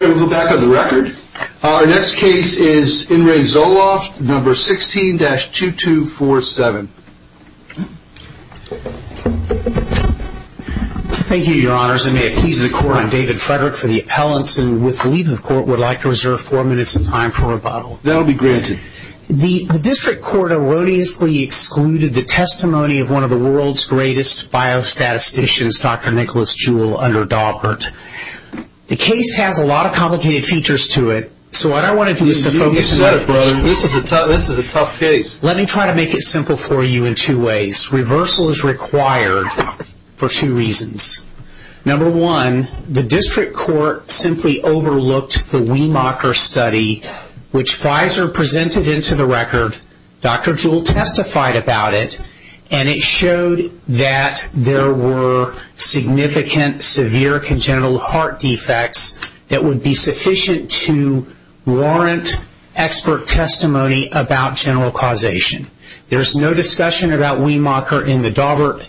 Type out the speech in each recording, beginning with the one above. We'll go back on the record. Our next case is In Re Zoloft, number 16-2247. Thank you, your honors. I may appease the court. I'm David Frederick for the appellants, and with the leave of court, would like to reserve four minutes of time for rebuttal. That will be granted. The district court erroneously excluded the testimony of one of the world's greatest biostatisticians, Dr. Nicholas Jewell, under Daubert. The case has a lot of complicated features to it, so I don't want to use the focus... You said it, brother. This is a tough case. Let me try to make it simple for you in two ways. Reversal is required for two reasons. Number one, the district court simply overlooked the Weimacher study, which Pfizer presented into the record. Dr. Jewell testified about it, and it showed that there were significant, severe congenital heart defects that would be sufficient to warrant expert testimony about general causation. There's no discussion about Weimacher in the Daubert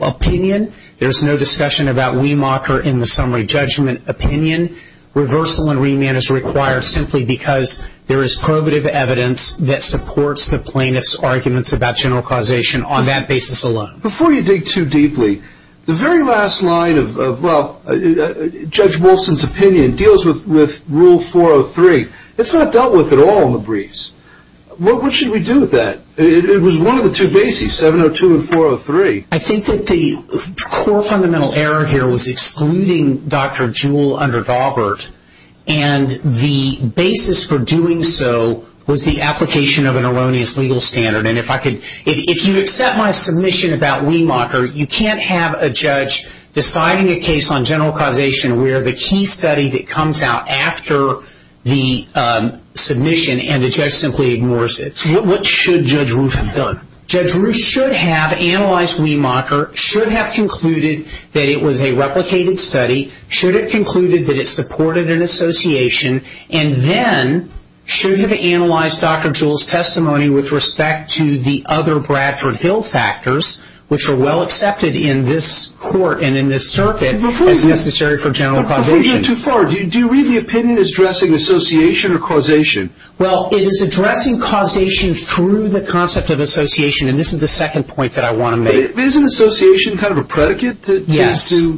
opinion. There's no discussion about Weimacher in the summary judgment opinion. Reversal and remand is required simply because there is probative evidence that supports the plaintiff's arguments about general causation on that basis alone. Before you dig too deeply, the very last line of Judge Wilson's opinion deals with Rule 403. It's not dealt with at all in the briefs. What should we do with that? It was one of the two bases, 702 and 403. I think that the core fundamental error here was excluding Dr. Jewell under Daubert, and the basis for doing so was the application of an erroneous legal standard. If you accept my submission about Weimacher, you can't have a judge deciding a case on general causation where the key study that comes out after the submission, and the judge simply ignores it. What should Judge Ruth have done? Judge Ruth should have analyzed Weimacher, should have concluded that it was a replicated study, should have concluded that it supported an association, and then should have analyzed Dr. Jewell's testimony with respect to the other Bradford Hill factors, which are well accepted in this court and in this circuit as necessary for general causation. Before you go too far, do you read the opinion as addressing association or causation? Well, it is addressing causation through the concept of association, and this is the second point that I want to make. But isn't association kind of a predicate to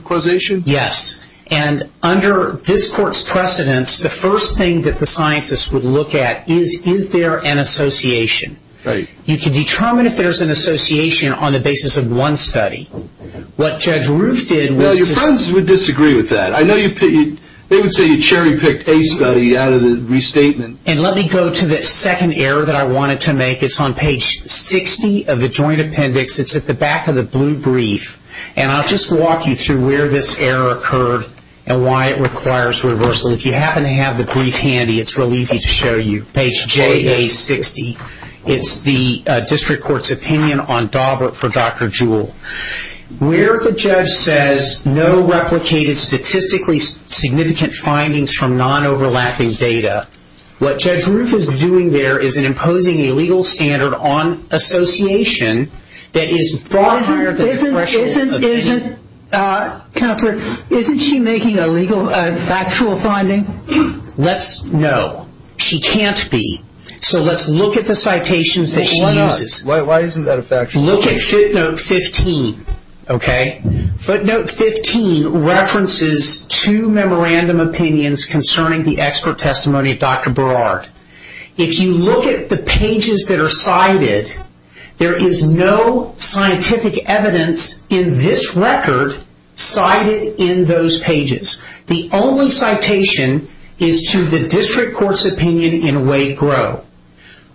causation? Yes, and under this court's precedence, the first thing that the scientists would look at is, is there an association? Right. You can determine if there's an association on the basis of one study. What Judge Ruth did was... They would say you cherry picked a study out of the restatement. And let me go to the second error that I wanted to make. It's on page 60 of the joint appendix. It's at the back of the blue brief, and I'll just walk you through where this error occurred and why it requires reversal. If you happen to have the brief handy, it's real easy to show you. Page J, page 60. It's the district court's opinion on Daubert for Dr. Jewell. Where the judge says no replicated statistically significant findings from non-overlapping data, what Judge Ruth is doing there is imposing a legal standard on association that is far higher than the threshold... Isn't, isn't, isn't, counselor, isn't she making a legal, a factual finding? Let's, no. She can't be. So let's look at the citations that she uses. Why not? Why isn't that a factual finding? Look at footnote 15. Okay? Footnote 15 references two memorandum opinions concerning the expert testimony of Dr. Burrard. If you look at the pages that are cited, there is no scientific evidence in this record cited in those pages. The only citation is to the district court's opinion in Wade-Groh.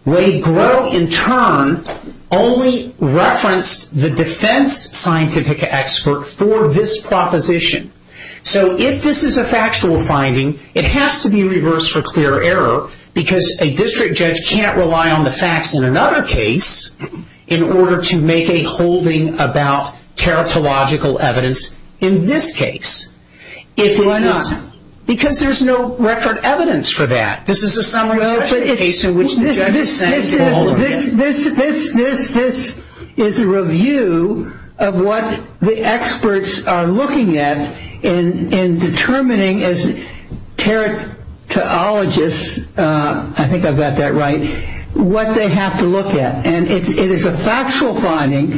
Wade-Groh, in turn, only referenced the defense scientific expert for this proposition. So if this is a factual finding, it has to be reversed for clear error, because a district judge can't rely on the facts in another case in order to make a holding about in this case. Why not? Because there's no record evidence for that. This is a summary case in which the judge is saying... This, this, this, this, this is a review of what the experts are looking at in determining, as teratologists, I think I've got that right, what they have to look at. And it is a factual finding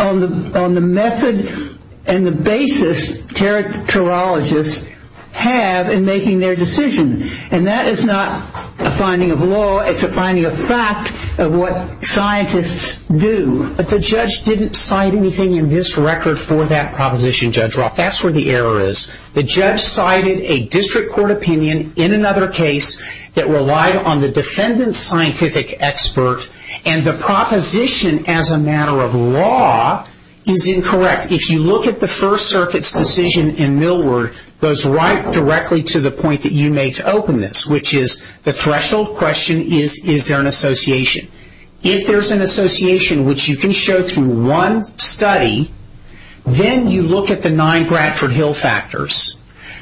on the method and the basis teratologists have in making their decision. And that is not a finding of law. It's a finding of fact of what scientists do. But the judge didn't cite anything in this record for that proposition, Judge Roth. That's where the error is. The judge cited a district court opinion in another case that relied on the defendant's scientific expert and the proposition as a matter of law is incorrect. If you look at the First Circuit's decision in Millward, it goes right directly to the point that you made to open this, which is the threshold question is, is there an association? If there's an association, which you can show through one study, then you look at the nine Bradford Hill factors.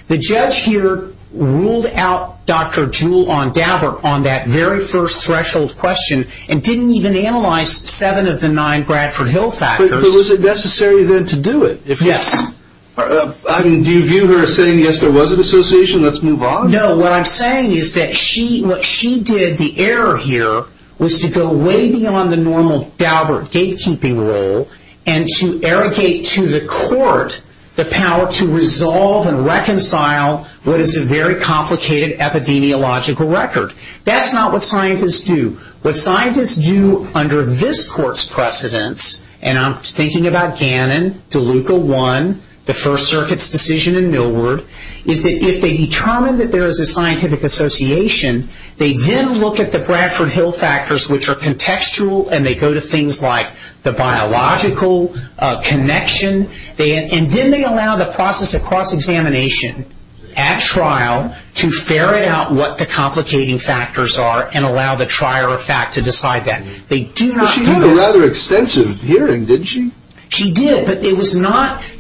The judge here ruled out Dr. Jewell on Daubert on that very first threshold question and didn't even analyze seven of the nine Bradford Hill factors. But was it necessary then to do it? Yes. Do you view her as saying, yes, there was an association, let's move on? No, what I'm saying is that what she did, the error here, was to go way beyond the normal Daubert gatekeeping role and to irrigate to the court the power to resolve and reconcile what is a very complicated epidemiological record. That's not what scientists do. What scientists do under this court's precedence, and I'm thinking about Gannon, DeLuca 1, the First Circuit's decision in Millward, is that if they determine that there is a scientific association, they then look at the Bradford Hill factors, which are contextual, and they go to things like the biological connection, and then they allow the process of cross-examination at trial to ferret out what the complicating factors are and allow the trier of fact to decide that. But she did a rather extensive hearing, didn't she? She did, but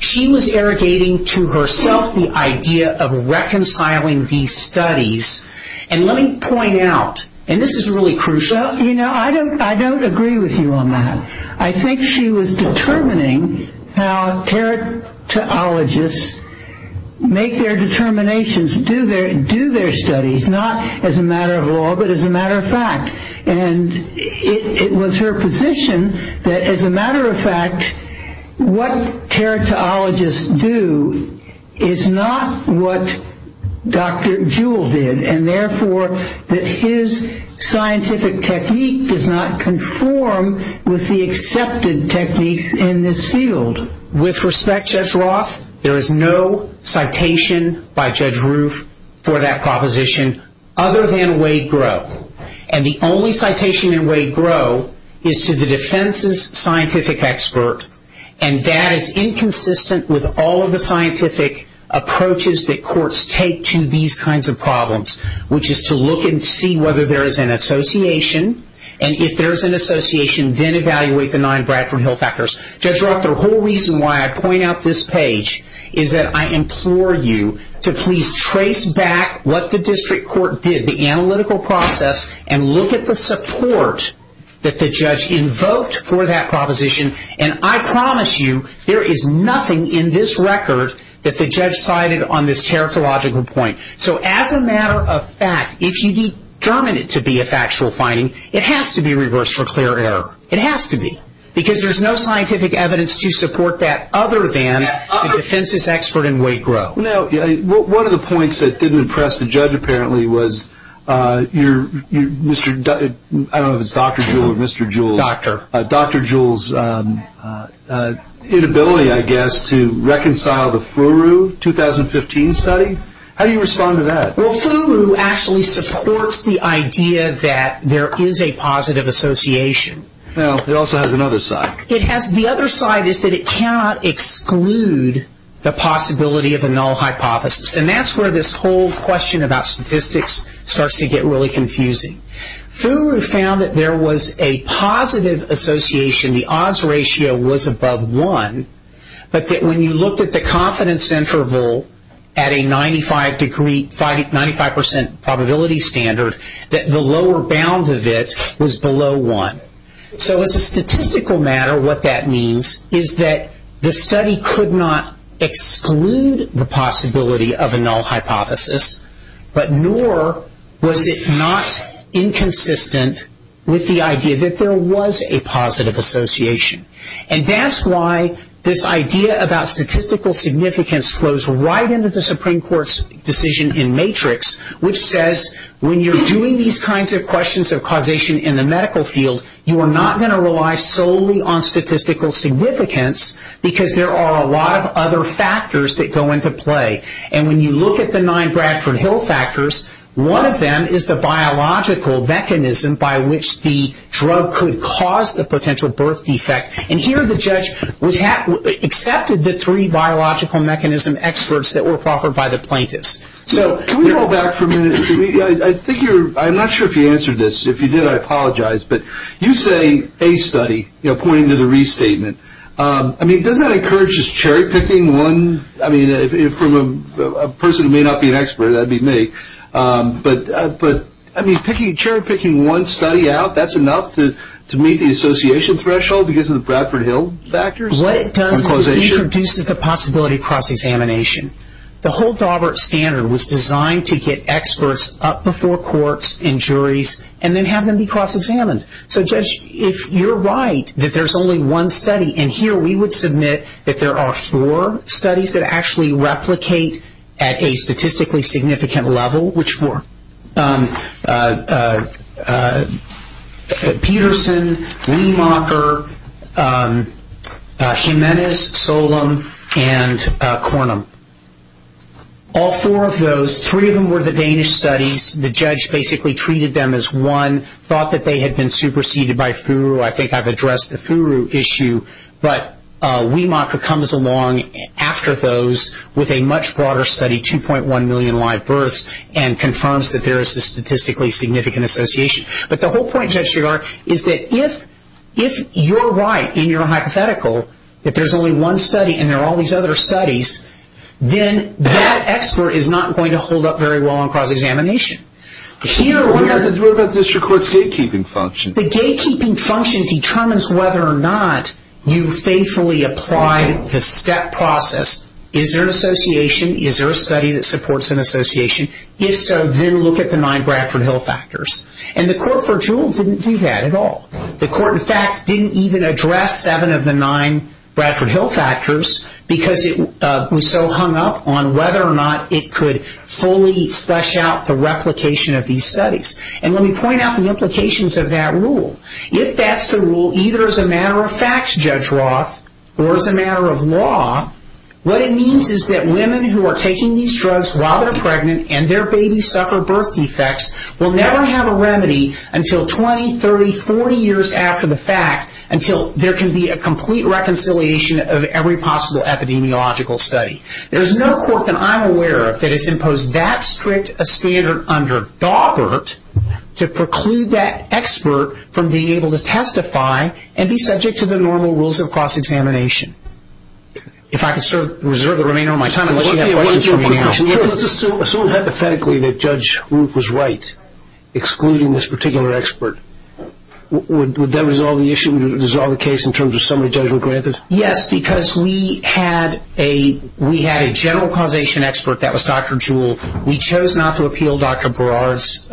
she was irrigating to herself the idea of reconciling these studies. And let me point out, and this is really crucial, I don't agree with you on that. I think she was determining how teratologists make their determinations, do their studies, not as a matter of law, but as a matter of fact. And it was her position that, as a matter of fact, what teratologists do is not what Dr. Jewell did, and therefore that his scientific technique does not conform with the accepted techniques in this field. With respect, Judge Roth, there is no citation by Judge Roof for that proposition other than Wade Groh. And the only citation in Wade Groh is to the defense's scientific expert, and that is inconsistent with all of the scientific approaches that courts take to these kinds of problems, which is to look and see whether there is an association, and if there is an association, then evaluate the nine Bradford Hill factors. Judge Roth, the whole reason why I point out this page is that I implore you to please trace back what the district court did, the analytical process, and look at the support that the judge invoked for that proposition. And I promise you there is nothing in this record that the judge cited on this teratological point. So as a matter of fact, if you determine it to be a factual finding, it has to be reversed for clear error. It has to be, because there is no scientific evidence to support that other than the defense's expert in Wade Groh. Now, one of the points that didn't impress the judge apparently was your, I don't know if it's Dr. Jewell or Mr. Jewell's, Dr. Dr. Jewell's inability, I guess, to reconcile the FURU 2015 study. How do you respond to that? Well, FURU actually supports the idea that there is a positive association. Now, it also has another side. The other side is that it cannot exclude the possibility of a null hypothesis. And that's where this whole question about statistics starts to get really confusing. FURU found that there was a positive association, the odds ratio was above one, but that when you looked at the confidence interval at a 95% probability standard, that the lower bound of it was below one. So as a statistical matter, what that means is that the study could not exclude the possibility of a null hypothesis, but nor was it not inconsistent with the idea that there was a positive association. And that's why this idea about statistical significance flows right into the Supreme Court's decision in Matrix, which says when you're doing these kinds of questions of causation in the medical field, you are not going to rely solely on statistical significance because there are a lot of other factors that go into play. And when you look at the nine Bradford Hill factors, one of them is the biological mechanism by which the drug could cause the potential birth defect. And here the judge accepted the three biological mechanism experts that were offered by the plaintiffs. So can we go back for a minute? I'm not sure if you answered this. If you did, I apologize. But you say a study, you know, pointing to the restatement. I mean, doesn't that encourage just cherry-picking one? I mean, from a person who may not be an expert, that would be me. But I mean, cherry-picking one study out, that's enough to meet the association threshold because of the Bradford Hill factors? What it does is it introduces the possibility of cross-examination. The whole Daubert standard was designed to get experts up before courts and juries and then have them be cross-examined. So, Judge, if you're right that there's only one study, and here we would submit that there are four studies that actually replicate at a statistically significant level, Which four? Peterson, Wiemacher, Jimenez, Solum, and Cornum. All four of those, three of them were the Danish studies. The judge basically treated them as one, thought that they had been superseded by Furu. I think I've addressed the Furu issue. But Wiemacher comes along after those with a much broader study, 2.1 million live births, and confirms that there is a statistically significant association. But the whole point, Judge Chigar, is that if you're right in your hypothetical, that there's only one study and there are all these other studies, then that expert is not going to hold up very well on cross-examination. What about the district court's gatekeeping function? The gatekeeping function determines whether or not you faithfully applied the step process. Is there an association? Is there a study that supports an association? If so, then look at the nine Bradford Hill factors. And the court for Jewell didn't do that at all. The court, in fact, didn't even address seven of the nine Bradford Hill factors because it was so hung up on whether or not it could fully flesh out the replication of these studies. And let me point out the implications of that rule. If that's the rule, either as a matter of fact, Judge Roth, or as a matter of law, what it means is that women who are taking these drugs while they're pregnant and their babies suffer birth defects will never have a remedy until 20, 30, 40 years after the fact until there can be a complete reconciliation of every possible epidemiological study. There's no court that I'm aware of that has imposed that strict a standard under Daubert to preclude that expert from being able to testify and be subject to the normal rules of cross-examination. If I could reserve the remainder of my time, unless you have questions for me now. Assume hypothetically that Judge Ruth was right, excluding this particular expert. Would that resolve the issue? Would it resolve the case in terms of summary judgment granted? Yes, because we had a general causation expert that was Dr. Jewell. We chose not to appeal Dr. Barrard's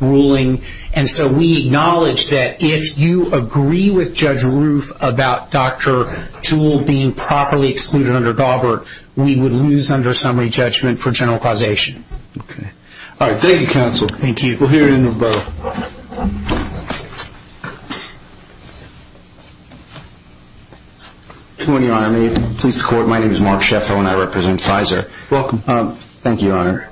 ruling, and so we acknowledge that if you agree with Judge Ruth about Dr. Jewell being properly excluded under Daubert, we would lose under summary judgment for general causation. All right. Thank you, counsel. We'll hear in a moment. Good morning, Your Honor. May it please the court, my name is Mark Sheffield and I represent Pfizer. Thank you, Your Honor.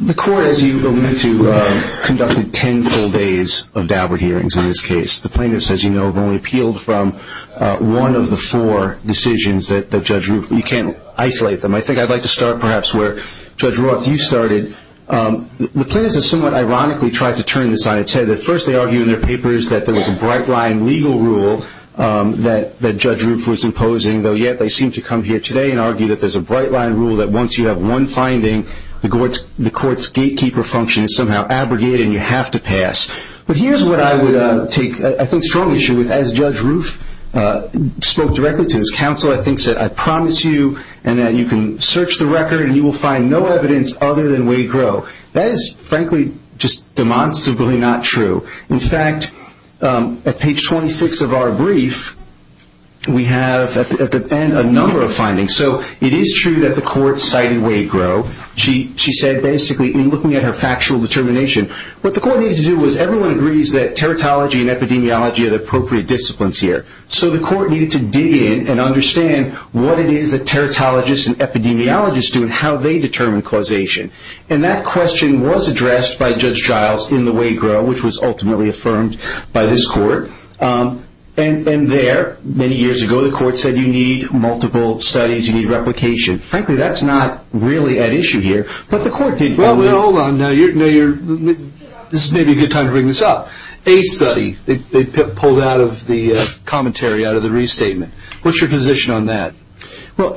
The court, as you allude to, conducted ten full days of Daubert hearings in this case. The plaintiffs, as you know, have only appealed from one of the four decisions that Judge Ruth, you can't isolate them. I think I'd like to start, perhaps, where Judge Roth, you started. The plaintiffs have somewhat ironically tried to turn this on its head. At first, they argued in their papers that there was a bright-line legal rule that Judge Ruth was imposing, though yet they seem to come here today and argue that there's a bright-line rule that once you have one finding, the court's gatekeeper function is somehow abrogated and you have to pass. But here's what I would take, I think, strong issue with. As Judge Ruth spoke directly to this counsel, I think she said, I promise you and that you can search the record and you will find no evidence other than Waygro. That is, frankly, just demonstrably not true. In fact, at page 26 of our brief, we have, at the end, a number of findings. So, it is true that the court cited Waygro. She said, basically, in looking at her factual determination, what the court needed to do was everyone agrees that teratology and epidemiology are the appropriate disciplines here. So, the court needed to dig in and understand what it is that teratologists and epidemiologists do and how they determine causation. And that question was addressed by Judge Giles in the Waygro, which was ultimately affirmed by this court. And there, many years ago, the court said you need multiple studies, you need replication. Frankly, that's not really at issue here, but the court did. Well, hold on now. This may be a good time to bring this up. A study they pulled out of the commentary, out of the restatement. What's your position on that? Well,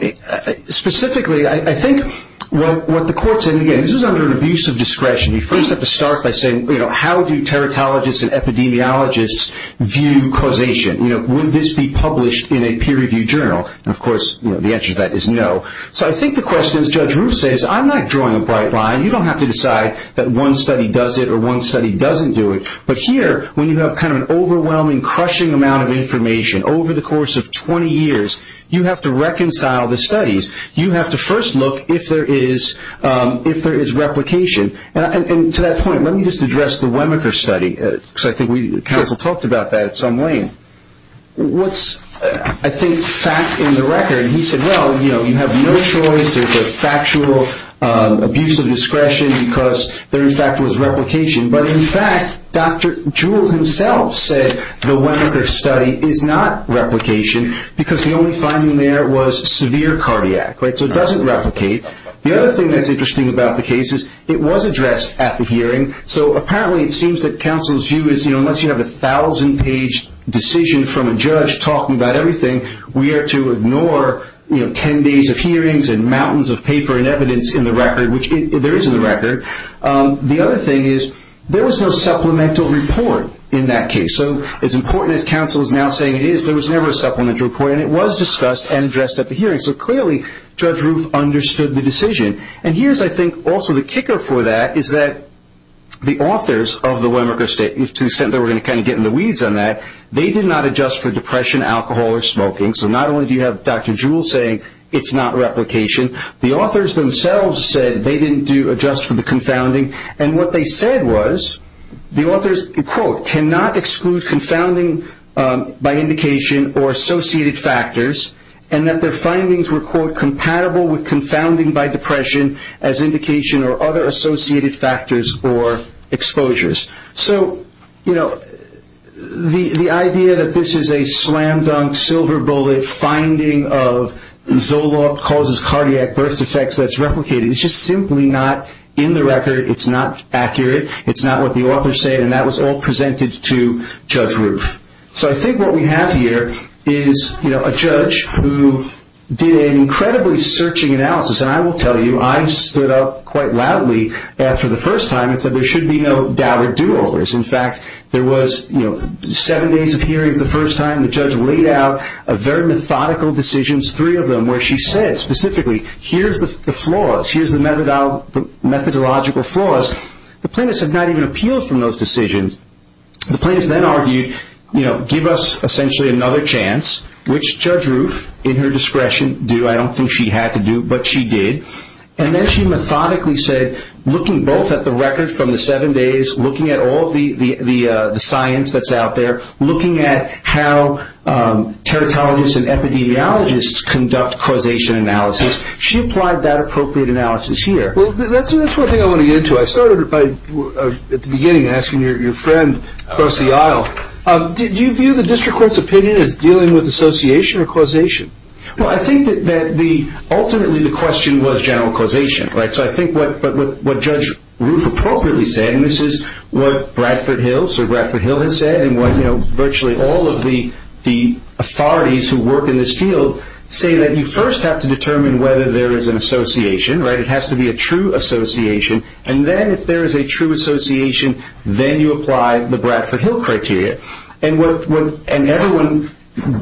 specifically, I think what the court said, again, this was under an abuse of discretion. You first have to start by saying, you know, how do teratologists and epidemiologists view causation? You know, would this be published in a peer-reviewed journal? And, of course, the answer to that is no. So I think the question, as Judge Roof says, I'm not drawing a bright line. You don't have to decide that one study does it or one study doesn't do it. But here, when you have kind of an overwhelming, crushing amount of information over the course of 20 years, you have to reconcile the studies. You have to first look if there is replication. And to that point, let me just address the Wemmicker study, because I think counsel talked about that at some length. What's, I think, fact in the record, he said, well, you know, you have no choice. There's a factual abuse of discretion because there, in fact, was replication. But, in fact, Dr. Jewell himself said the Wemmicker study is not replication because the only finding there was severe cardiac. So it doesn't replicate. The other thing that's interesting about the case is it was addressed at the hearing. So apparently it seems that counsel's view is, you know, unless you have a 1,000-page decision from a judge talking about everything, we are to ignore, you know, 10 days of hearings and mountains of paper and evidence in the record, which there is in the record. The other thing is there was no supplemental report in that case. So as important as counsel is now saying it is, there was never a supplemental report, and it was discussed and addressed at the hearing. So clearly Judge Roof understood the decision. And here's, I think, also the kicker for that is that the authors of the Wemmicker study, to the extent that we're going to kind of get in the weeds on that, they did not adjust for depression, alcohol, or smoking. So not only do you have Dr. Jewell saying it's not replication, the authors themselves said they didn't adjust for the confounding. And what they said was the authors, quote, cannot exclude confounding by indication or associated factors, and that their findings were, quote, compatible with confounding by depression as indication or other associated factors or exposures. So, you know, the idea that this is a slam dunk, silver bullet finding of Zoloft causes cardiac birth defects that's replicated, it's just simply not in the record, it's not accurate, it's not what the authors said, and that was all presented to Judge Roof. So I think what we have here is, you know, a judge who did an incredibly searching analysis, and I will tell you I stood up quite loudly after the first time and said there should be no doubted do-overs. In fact, there was, you know, seven days of hearings the first time the judge laid out a very methodical decision, three of them, where she said specifically, here's the flaws, here's the methodological flaws. The plaintiffs have not even appealed from those decisions. The plaintiffs then argued, you know, give us essentially another chance, which Judge Roof, in her discretion, do. I don't think she had to do, but she did. And then she methodically said, looking both at the record from the seven days, looking at all the science that's out there, looking at how teratologists and epidemiologists conduct causation analysis, she applied that appropriate analysis here. Well, that's one thing I want to get into. I started at the beginning asking your friend across the aisle, do you view the district court's opinion as dealing with association or causation? Well, I think that ultimately the question was general causation, right? So I think what Judge Roof appropriately said, and this is what Bradford Hill, Sir Bradford Hill, has said, and what virtually all of the authorities who work in this field say, that you first have to determine whether there is an association, right? A true association. And then if there is a true association, then you apply the Bradford Hill criteria. And everyone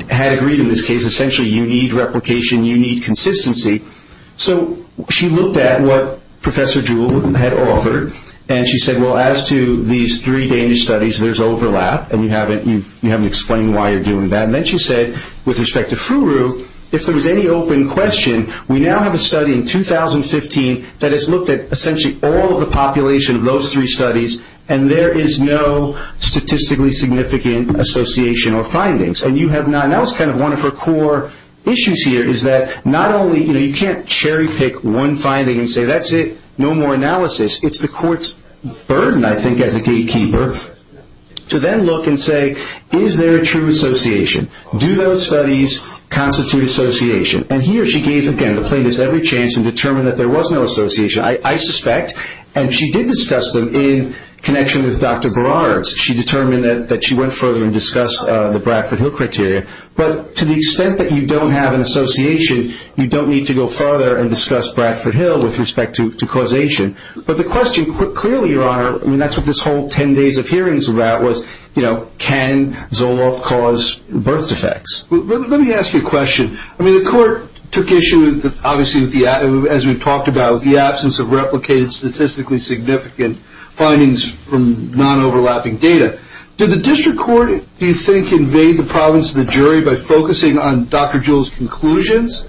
had agreed in this case, essentially you need replication, you need consistency. So she looked at what Professor Jewell had offered, and she said, well, as to these three Danish studies, there's overlap. And you haven't explained why you're doing that. And then she said, with respect to FRURU, if there was any open question, we now have a study in 2015 that has looked at essentially all of the population of those three studies, and there is no statistically significant association or findings. And that was kind of one of her core issues here, is that not only, you know, you can't cherry pick one finding and say that's it, no more analysis. It's the court's burden, I think, as a gatekeeper to then look and say, is there a true association? Do those studies constitute association? And here she gave, again, the plaintiffs every chance to determine that there was no association, I suspect. And she did discuss them in connection with Dr. Berard. She determined that she went further and discussed the Bradford Hill criteria. But to the extent that you don't have an association, you don't need to go further and discuss Bradford Hill with respect to causation. But the question, clearly, Your Honor, I mean, that's what this whole 10 days of hearing is about, was, you know, can Zoloft cause birth defects? Let me ask you a question. I mean, the court took issue, obviously, as we've talked about, with the absence of replicated statistically significant findings from non-overlapping data. Did the district court, do you think, invade the province of the jury by focusing on Dr. Jewell's conclusions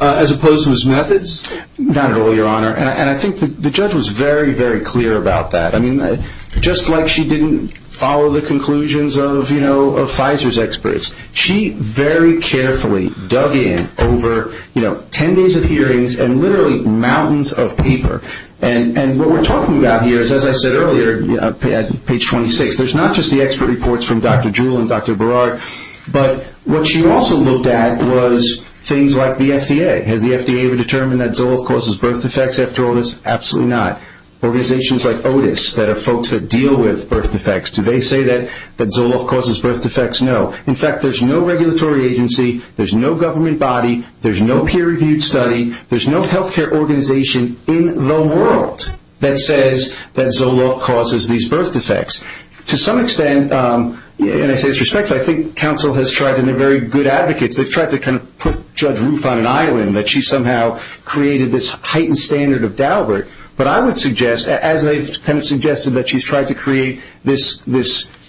as opposed to his methods? Not at all, Your Honor. And I think the judge was very, very clear about that. I mean, just like she didn't follow the conclusions of, you know, of Pfizer's experts, she very carefully dug in over, you know, 10 days of hearings and literally mountains of paper. And what we're talking about here is, as I said earlier, page 26, there's not just the expert reports from Dr. Jewell and Dr. Berard, but what she also looked at was things like the FDA. Has the FDA determined that Zoloft causes birth defects after all this? Absolutely not. Organizations like Otis that are folks that deal with birth defects, do they say that Zoloft causes birth defects? No. In fact, there's no regulatory agency, there's no government body, there's no peer-reviewed study, there's no health care organization in the world that says that Zoloft causes these birth defects. To some extent, and I say this respectfully, I think counsel has tried, and they're very good advocates, they've tried to kind of put Judge Roof on an island, that she somehow created this heightened standard of Daubert. But I would suggest, as they have suggested, that she's tried to create this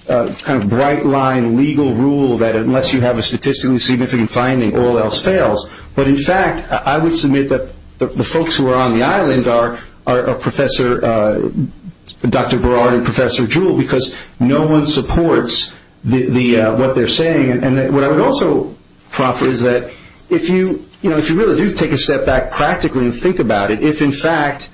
kind of bright-line legal rule that unless you have a statistically significant finding, all else fails. But in fact, I would submit that the folks who are on the island are Dr. Berard and Professor Jewell, because no one supports what they're saying. And what I would also proffer is that if you really do take a step back practically and think about it, if in fact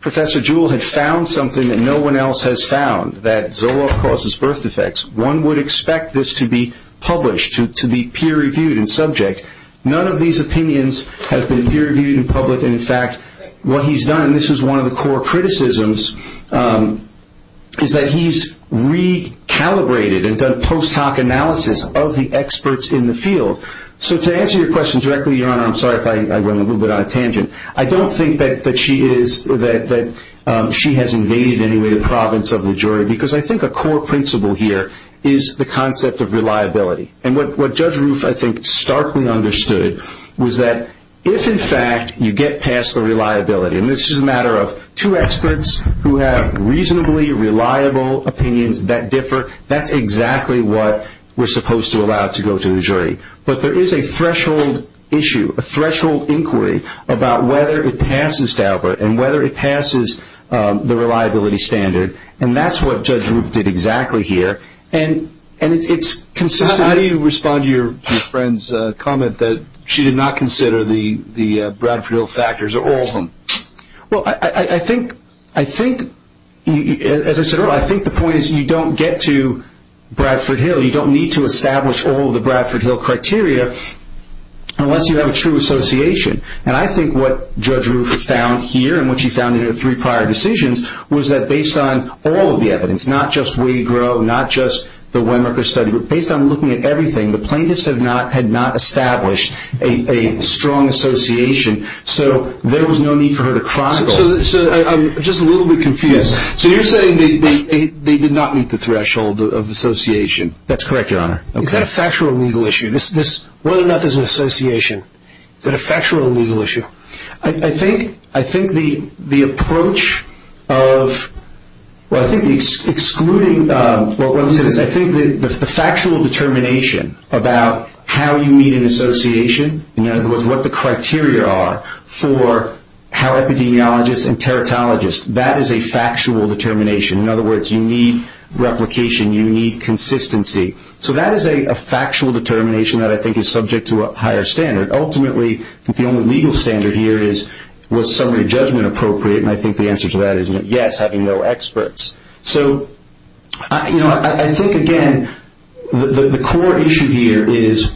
Professor Jewell had found something that no one else has found, that Zoloft causes birth defects, one would expect this to be published, to be peer-reviewed and subject. None of these opinions have been peer-reviewed in public, and in fact, what he's done, and this is one of the core criticisms, is that he's recalibrated and done post-hoc analysis of the experts in the field. So to answer your question directly, Your Honor, I'm sorry if I went a little bit on a tangent. I don't think that she has invaded any way the province of the jury, because I think a core principle here is the concept of reliability. And what Judge Roof, I think, starkly understood was that if in fact you get past the reliability, and this is a matter of two experts who have reasonably reliable opinions that differ, that's exactly what we're supposed to allow to go to the jury. But there is a threshold issue, a threshold inquiry about whether it passes Daubert and whether it passes the reliability standard, and that's what Judge Roof did exactly here. And it's consistent. How do you respond to your friend's comment that she did not consider the Bradford Hill factors or all of them? Well, I think, as I said earlier, I think the point is you don't get to Bradford Hill. You don't need to establish all of the Bradford Hill criteria unless you have a true association. And I think what Judge Roof found here and what she found in her three prior decisions was that based on all of the evidence, not just Wade Grove, not just the Wemerker study, but based on looking at everything, the plaintiffs had not established a strong association, so there was no need for her to chronicle it. So I'm just a little bit confused. So you're saying they did not meet the threshold of association. That's correct, Your Honor. Is that a factual or legal issue, whether or not there's an association? Is that a factual or legal issue? I think the approach of, well, I think the factional determination about how you meet an association, in other words, what the criteria are for how epidemiologists and teratologists, that is a factual determination. In other words, you need replication. You need consistency. So that is a factual determination that I think is subject to a higher standard. Ultimately, the only legal standard here is was summary judgment appropriate, and I think the answer to that is yes, having no experts. So I think, again, the core issue here is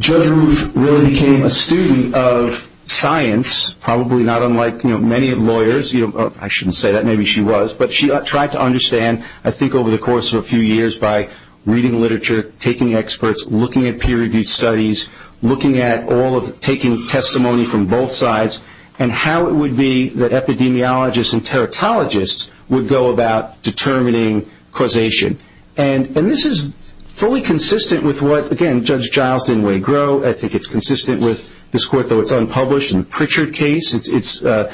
Judge Roof really became a student of science, probably not unlike many lawyers. I shouldn't say that. Maybe she was. But she tried to understand, I think over the course of a few years, by reading literature, taking experts, looking at peer-reviewed studies, looking at all of taking testimony from both sides, and how it would be that epidemiologists and teratologists would go about determining causation. And this is fully consistent with what, again, Judge Giles didn't way grow. I think it's consistent with this court, though it's unpublished, and the Pritchard case. The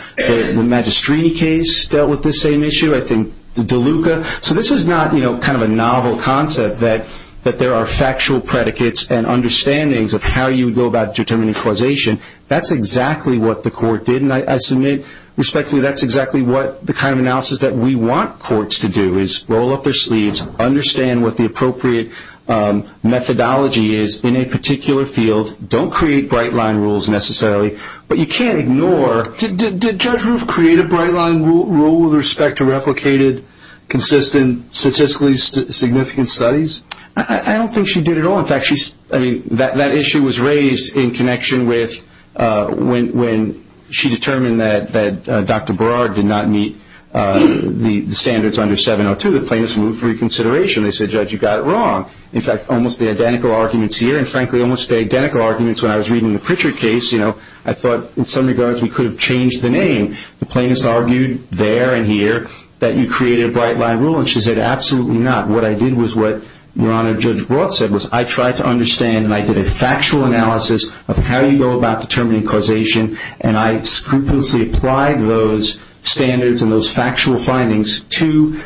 Magistrini case dealt with this same issue. I think DeLuca. So this is not kind of a novel concept that there are factual predicates and understandings of how you would go about determining causation. That's exactly what the court did. And I submit respectfully that's exactly what the kind of analysis that we want courts to do, is roll up their sleeves, understand what the appropriate methodology is in a particular field, don't create bright-line rules necessarily, but you can't ignore. Did Judge Roof create a bright-line rule with respect to replicated, consistent, statistically significant studies? I don't think she did at all. That issue was raised in connection with when she determined that Dr. Barard did not meet the standards under 702. The plaintiffs moved for reconsideration. They said, Judge, you got it wrong. In fact, almost the identical arguments here and, frankly, almost the identical arguments when I was reading the Pritchard case, I thought in some regards we could have changed the name. The plaintiffs argued there and here that you created a bright-line rule, and she said, absolutely not. What I did was what Your Honor, Judge Roth said, was I tried to understand, and I did a factual analysis of how you go about determining causation, and I scrupulously applied those standards and those factual findings to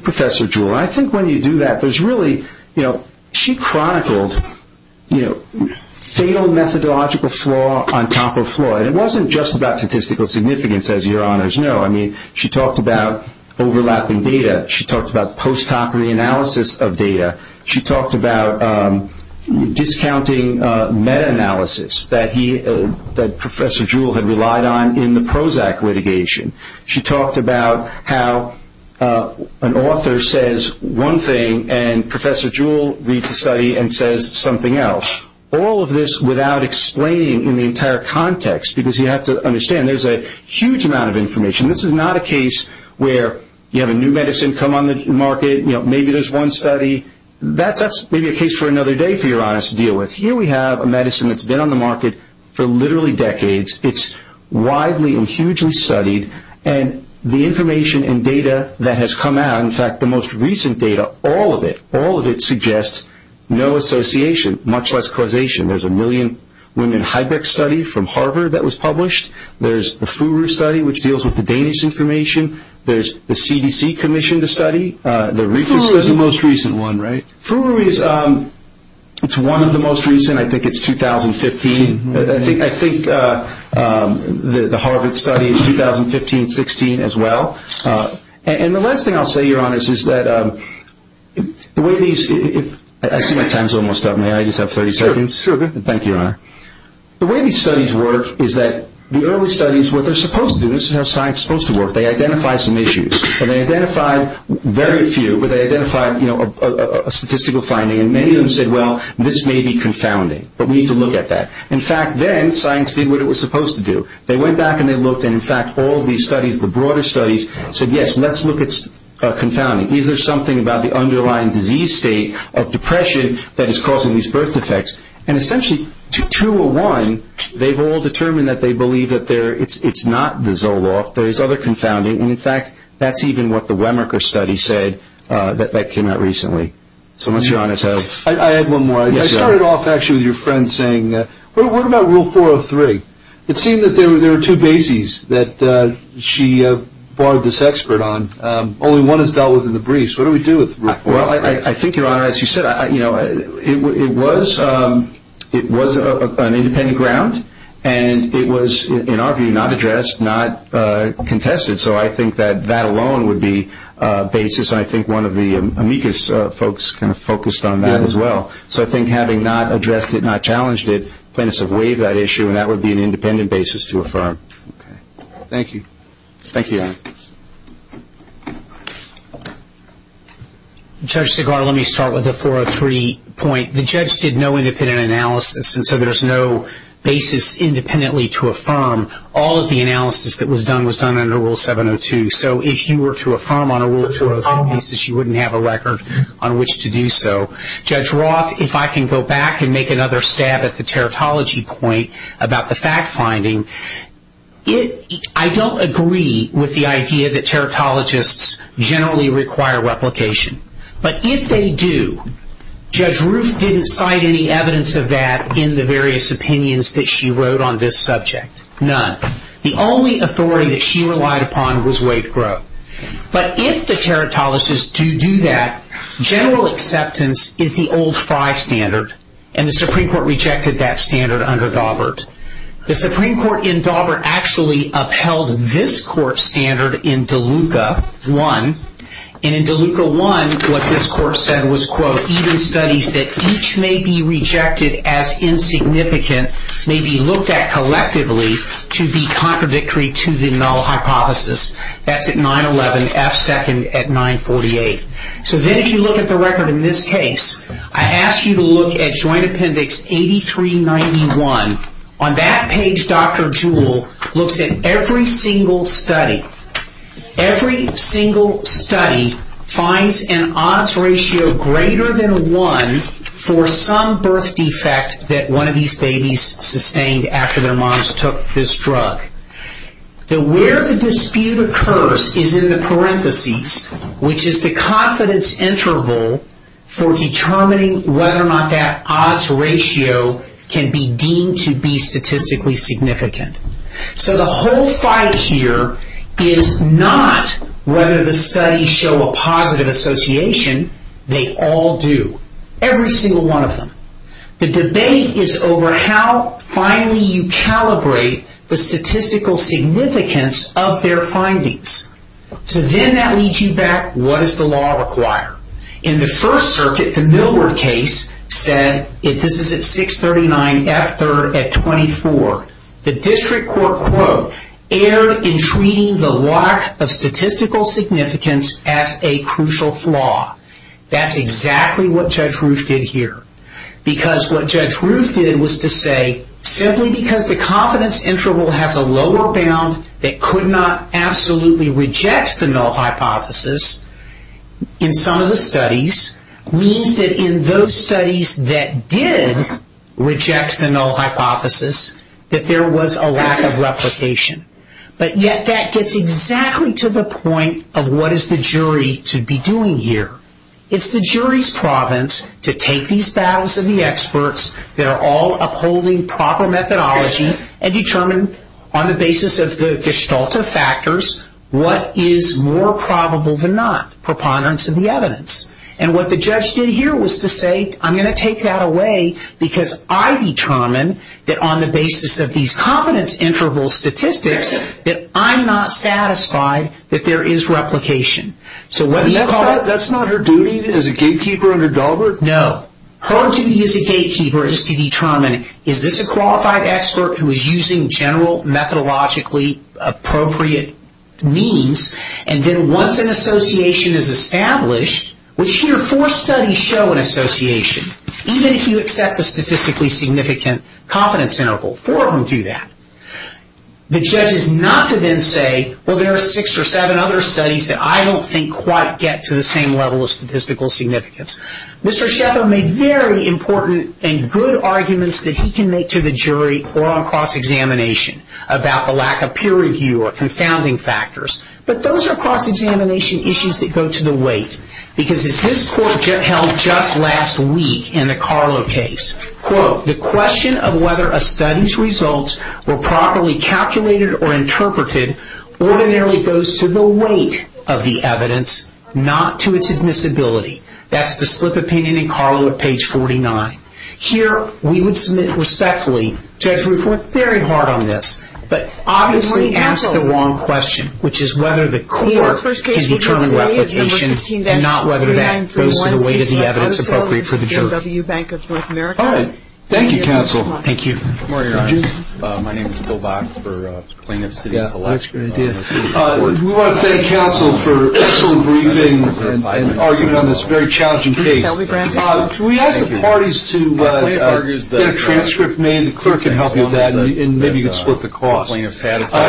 Professor Jewell. I think when you do that, there's really, you know, she chronicled fatal methodological flaw on top of flaw, and it wasn't just about statistical significance, as Your Honors know. I mean, she talked about overlapping data. She talked about post-hoc reanalysis of data. She talked about discounting meta-analysis that Professor Jewell had relied on in the Prozac litigation. She talked about how an author says one thing, and Professor Jewell reads the study and says something else. All of this without explaining in the entire context, because you have to understand there's a huge amount of information. This is not a case where you have a new medicine come on the market. You know, maybe there's one study. That's maybe a case for another day, for Your Honors, to deal with. Here we have a medicine that's been on the market for literally decades. It's widely and hugely studied, and the information and data that has come out, in fact, the most recent data, all of it, all of it suggests no association, much less causation. There's a million-women Hybrex study from Harvard that was published. There's the FURU study, which deals with the Danish information. There's the CDC commission to study. FURU is the most recent one, right? FURU is one of the most recent. I think it's 2015. I think the Harvard study is 2015-16 as well. And the last thing I'll say, Your Honors, is that the way these – I see my time's almost up. May I just have 30 seconds? Sure, go ahead. Thank you, Your Honor. The way these studies work is that the early studies, what they're supposed to do – this is how science is supposed to work. They identify some issues, and they identify very few, but they identify a statistical finding, and many of them said, well, this may be confounding, but we need to look at that. In fact, then science did what it was supposed to do. They went back and they looked, and, in fact, all of these studies, the broader studies, said, yes, let's look at confounding. Is there something about the underlying disease state of depression that is causing these birth defects? And, essentially, to a one, they've all determined that they believe that it's not the Zoloft. There is other confounding, and, in fact, that's even what the Wemerker study said that came out recently. So unless you're honest, I have one more. I started off, actually, with your friend saying, well, what about Rule 403? It seemed that there were two bases that she barred this expert on. Only one is dealt with in the briefs. What do we do with Rule 403? Well, I think, Your Honor, as you said, it was an independent ground, and it was, in our view, not addressed, not contested. So I think that that alone would be a basis, and I think one of the amicus folks kind of focused on that as well. So I think having not addressed it, not challenged it, plaintiffs have waived that issue, and that would be an independent basis to affirm. Thank you. Thank you, Your Honor. Judge Segar, let me start with the 403 point. The judge did no independent analysis, and so there's no basis independently to affirm. All of the analysis that was done was done under Rule 702. So if you were to affirm on a Rule 203 basis, you wouldn't have a record on which to do so. Judge Roth, if I can go back and make another stab at the teratology point about the fact-finding. I don't agree with the idea that teratologists generally require replication. But if they do, Judge Ruth didn't cite any evidence of that in the various opinions that she wrote on this subject. None. The only authority that she relied upon was Wade Grove. But if the teratologists do do that, general acceptance is the old Frye standard, and the Supreme Court rejected that standard under Dawbert. The Supreme Court in Dawbert actually upheld this court standard in DeLuca 1. And in DeLuca 1, what this court said was, quote, even studies that each may be rejected as insignificant may be looked at collectively to be contradictory to the null hypothesis. That's at 911, F second at 948. So then if you look at the record in this case, I ask you to look at Joint Appendix 8391. On that page, Dr. Jewell looks at every single study. Every single study finds an odds ratio greater than one for some birth defect that one of these babies sustained after their moms took this drug. Where the dispute occurs is in the parentheses, which is the confidence interval for determining whether or not that odds ratio can be deemed to be statistically significant. So the whole fight here is not whether the studies show a positive association. They all do. Every single one of them. The debate is over how finally you calibrate the statistical significance of their findings. So then that leads you back, what does the law require? In the First Circuit, the Millward case said, if this is at 639, F third at 24, the district court, quote, erred in treating the lack of statistical significance as a crucial flaw. That's exactly what Judge Roof did here. Because what Judge Roof did was to say, simply because the confidence interval has a lower bound that could not absolutely reject the null hypothesis in some of the studies, means that in those studies that did reject the null hypothesis, that there was a lack of replication. But yet that gets exactly to the point of what is the jury to be doing here. It's the jury's province to take these battles of the experts that are all upholding proper methodology and determine on the basis of the gestalt of factors what is more probable than not, preponderance of the evidence. And what the judge did here was to say, I'm going to take that away because I determine that on the basis of these confidence interval statistics that I'm not satisfied that there is replication. So what do you call it? That's not her duty as a gatekeeper under Daubert? No. Her duty as a gatekeeper is to determine, is this a qualified expert who is using general methodologically appropriate means? And then once an association is established, which here four studies show an association, even if you accept the statistically significant confidence interval, four of them do that, the judge is not to then say, well, there are six or seven other studies that I don't think quite get to the same level of statistical significance. Mr. Shepherd made very important and good arguments that he can make to the jury or on cross-examination about the lack of peer review or confounding factors. But those are cross-examination issues that go to the weight because as this court held just last week in the Carlo case, quote, the question of whether a study's results were properly calculated or interpreted ordinarily goes to the weight of the evidence, not to its admissibility. That's the slip opinion in Carlo at page 49. Here we would submit respectfully, Judge Ruth worked very hard on this, but obviously asked the wrong question, which is whether the court can determine replication and not whether that goes to the weight of the evidence appropriate for the jury. All right. Thank you, counsel. Thank you. We want to thank counsel for excellent briefing and argument on this very challenging case. Can we ask the parties to get a transcript made and the clerk can help you with that and maybe you can split the cost.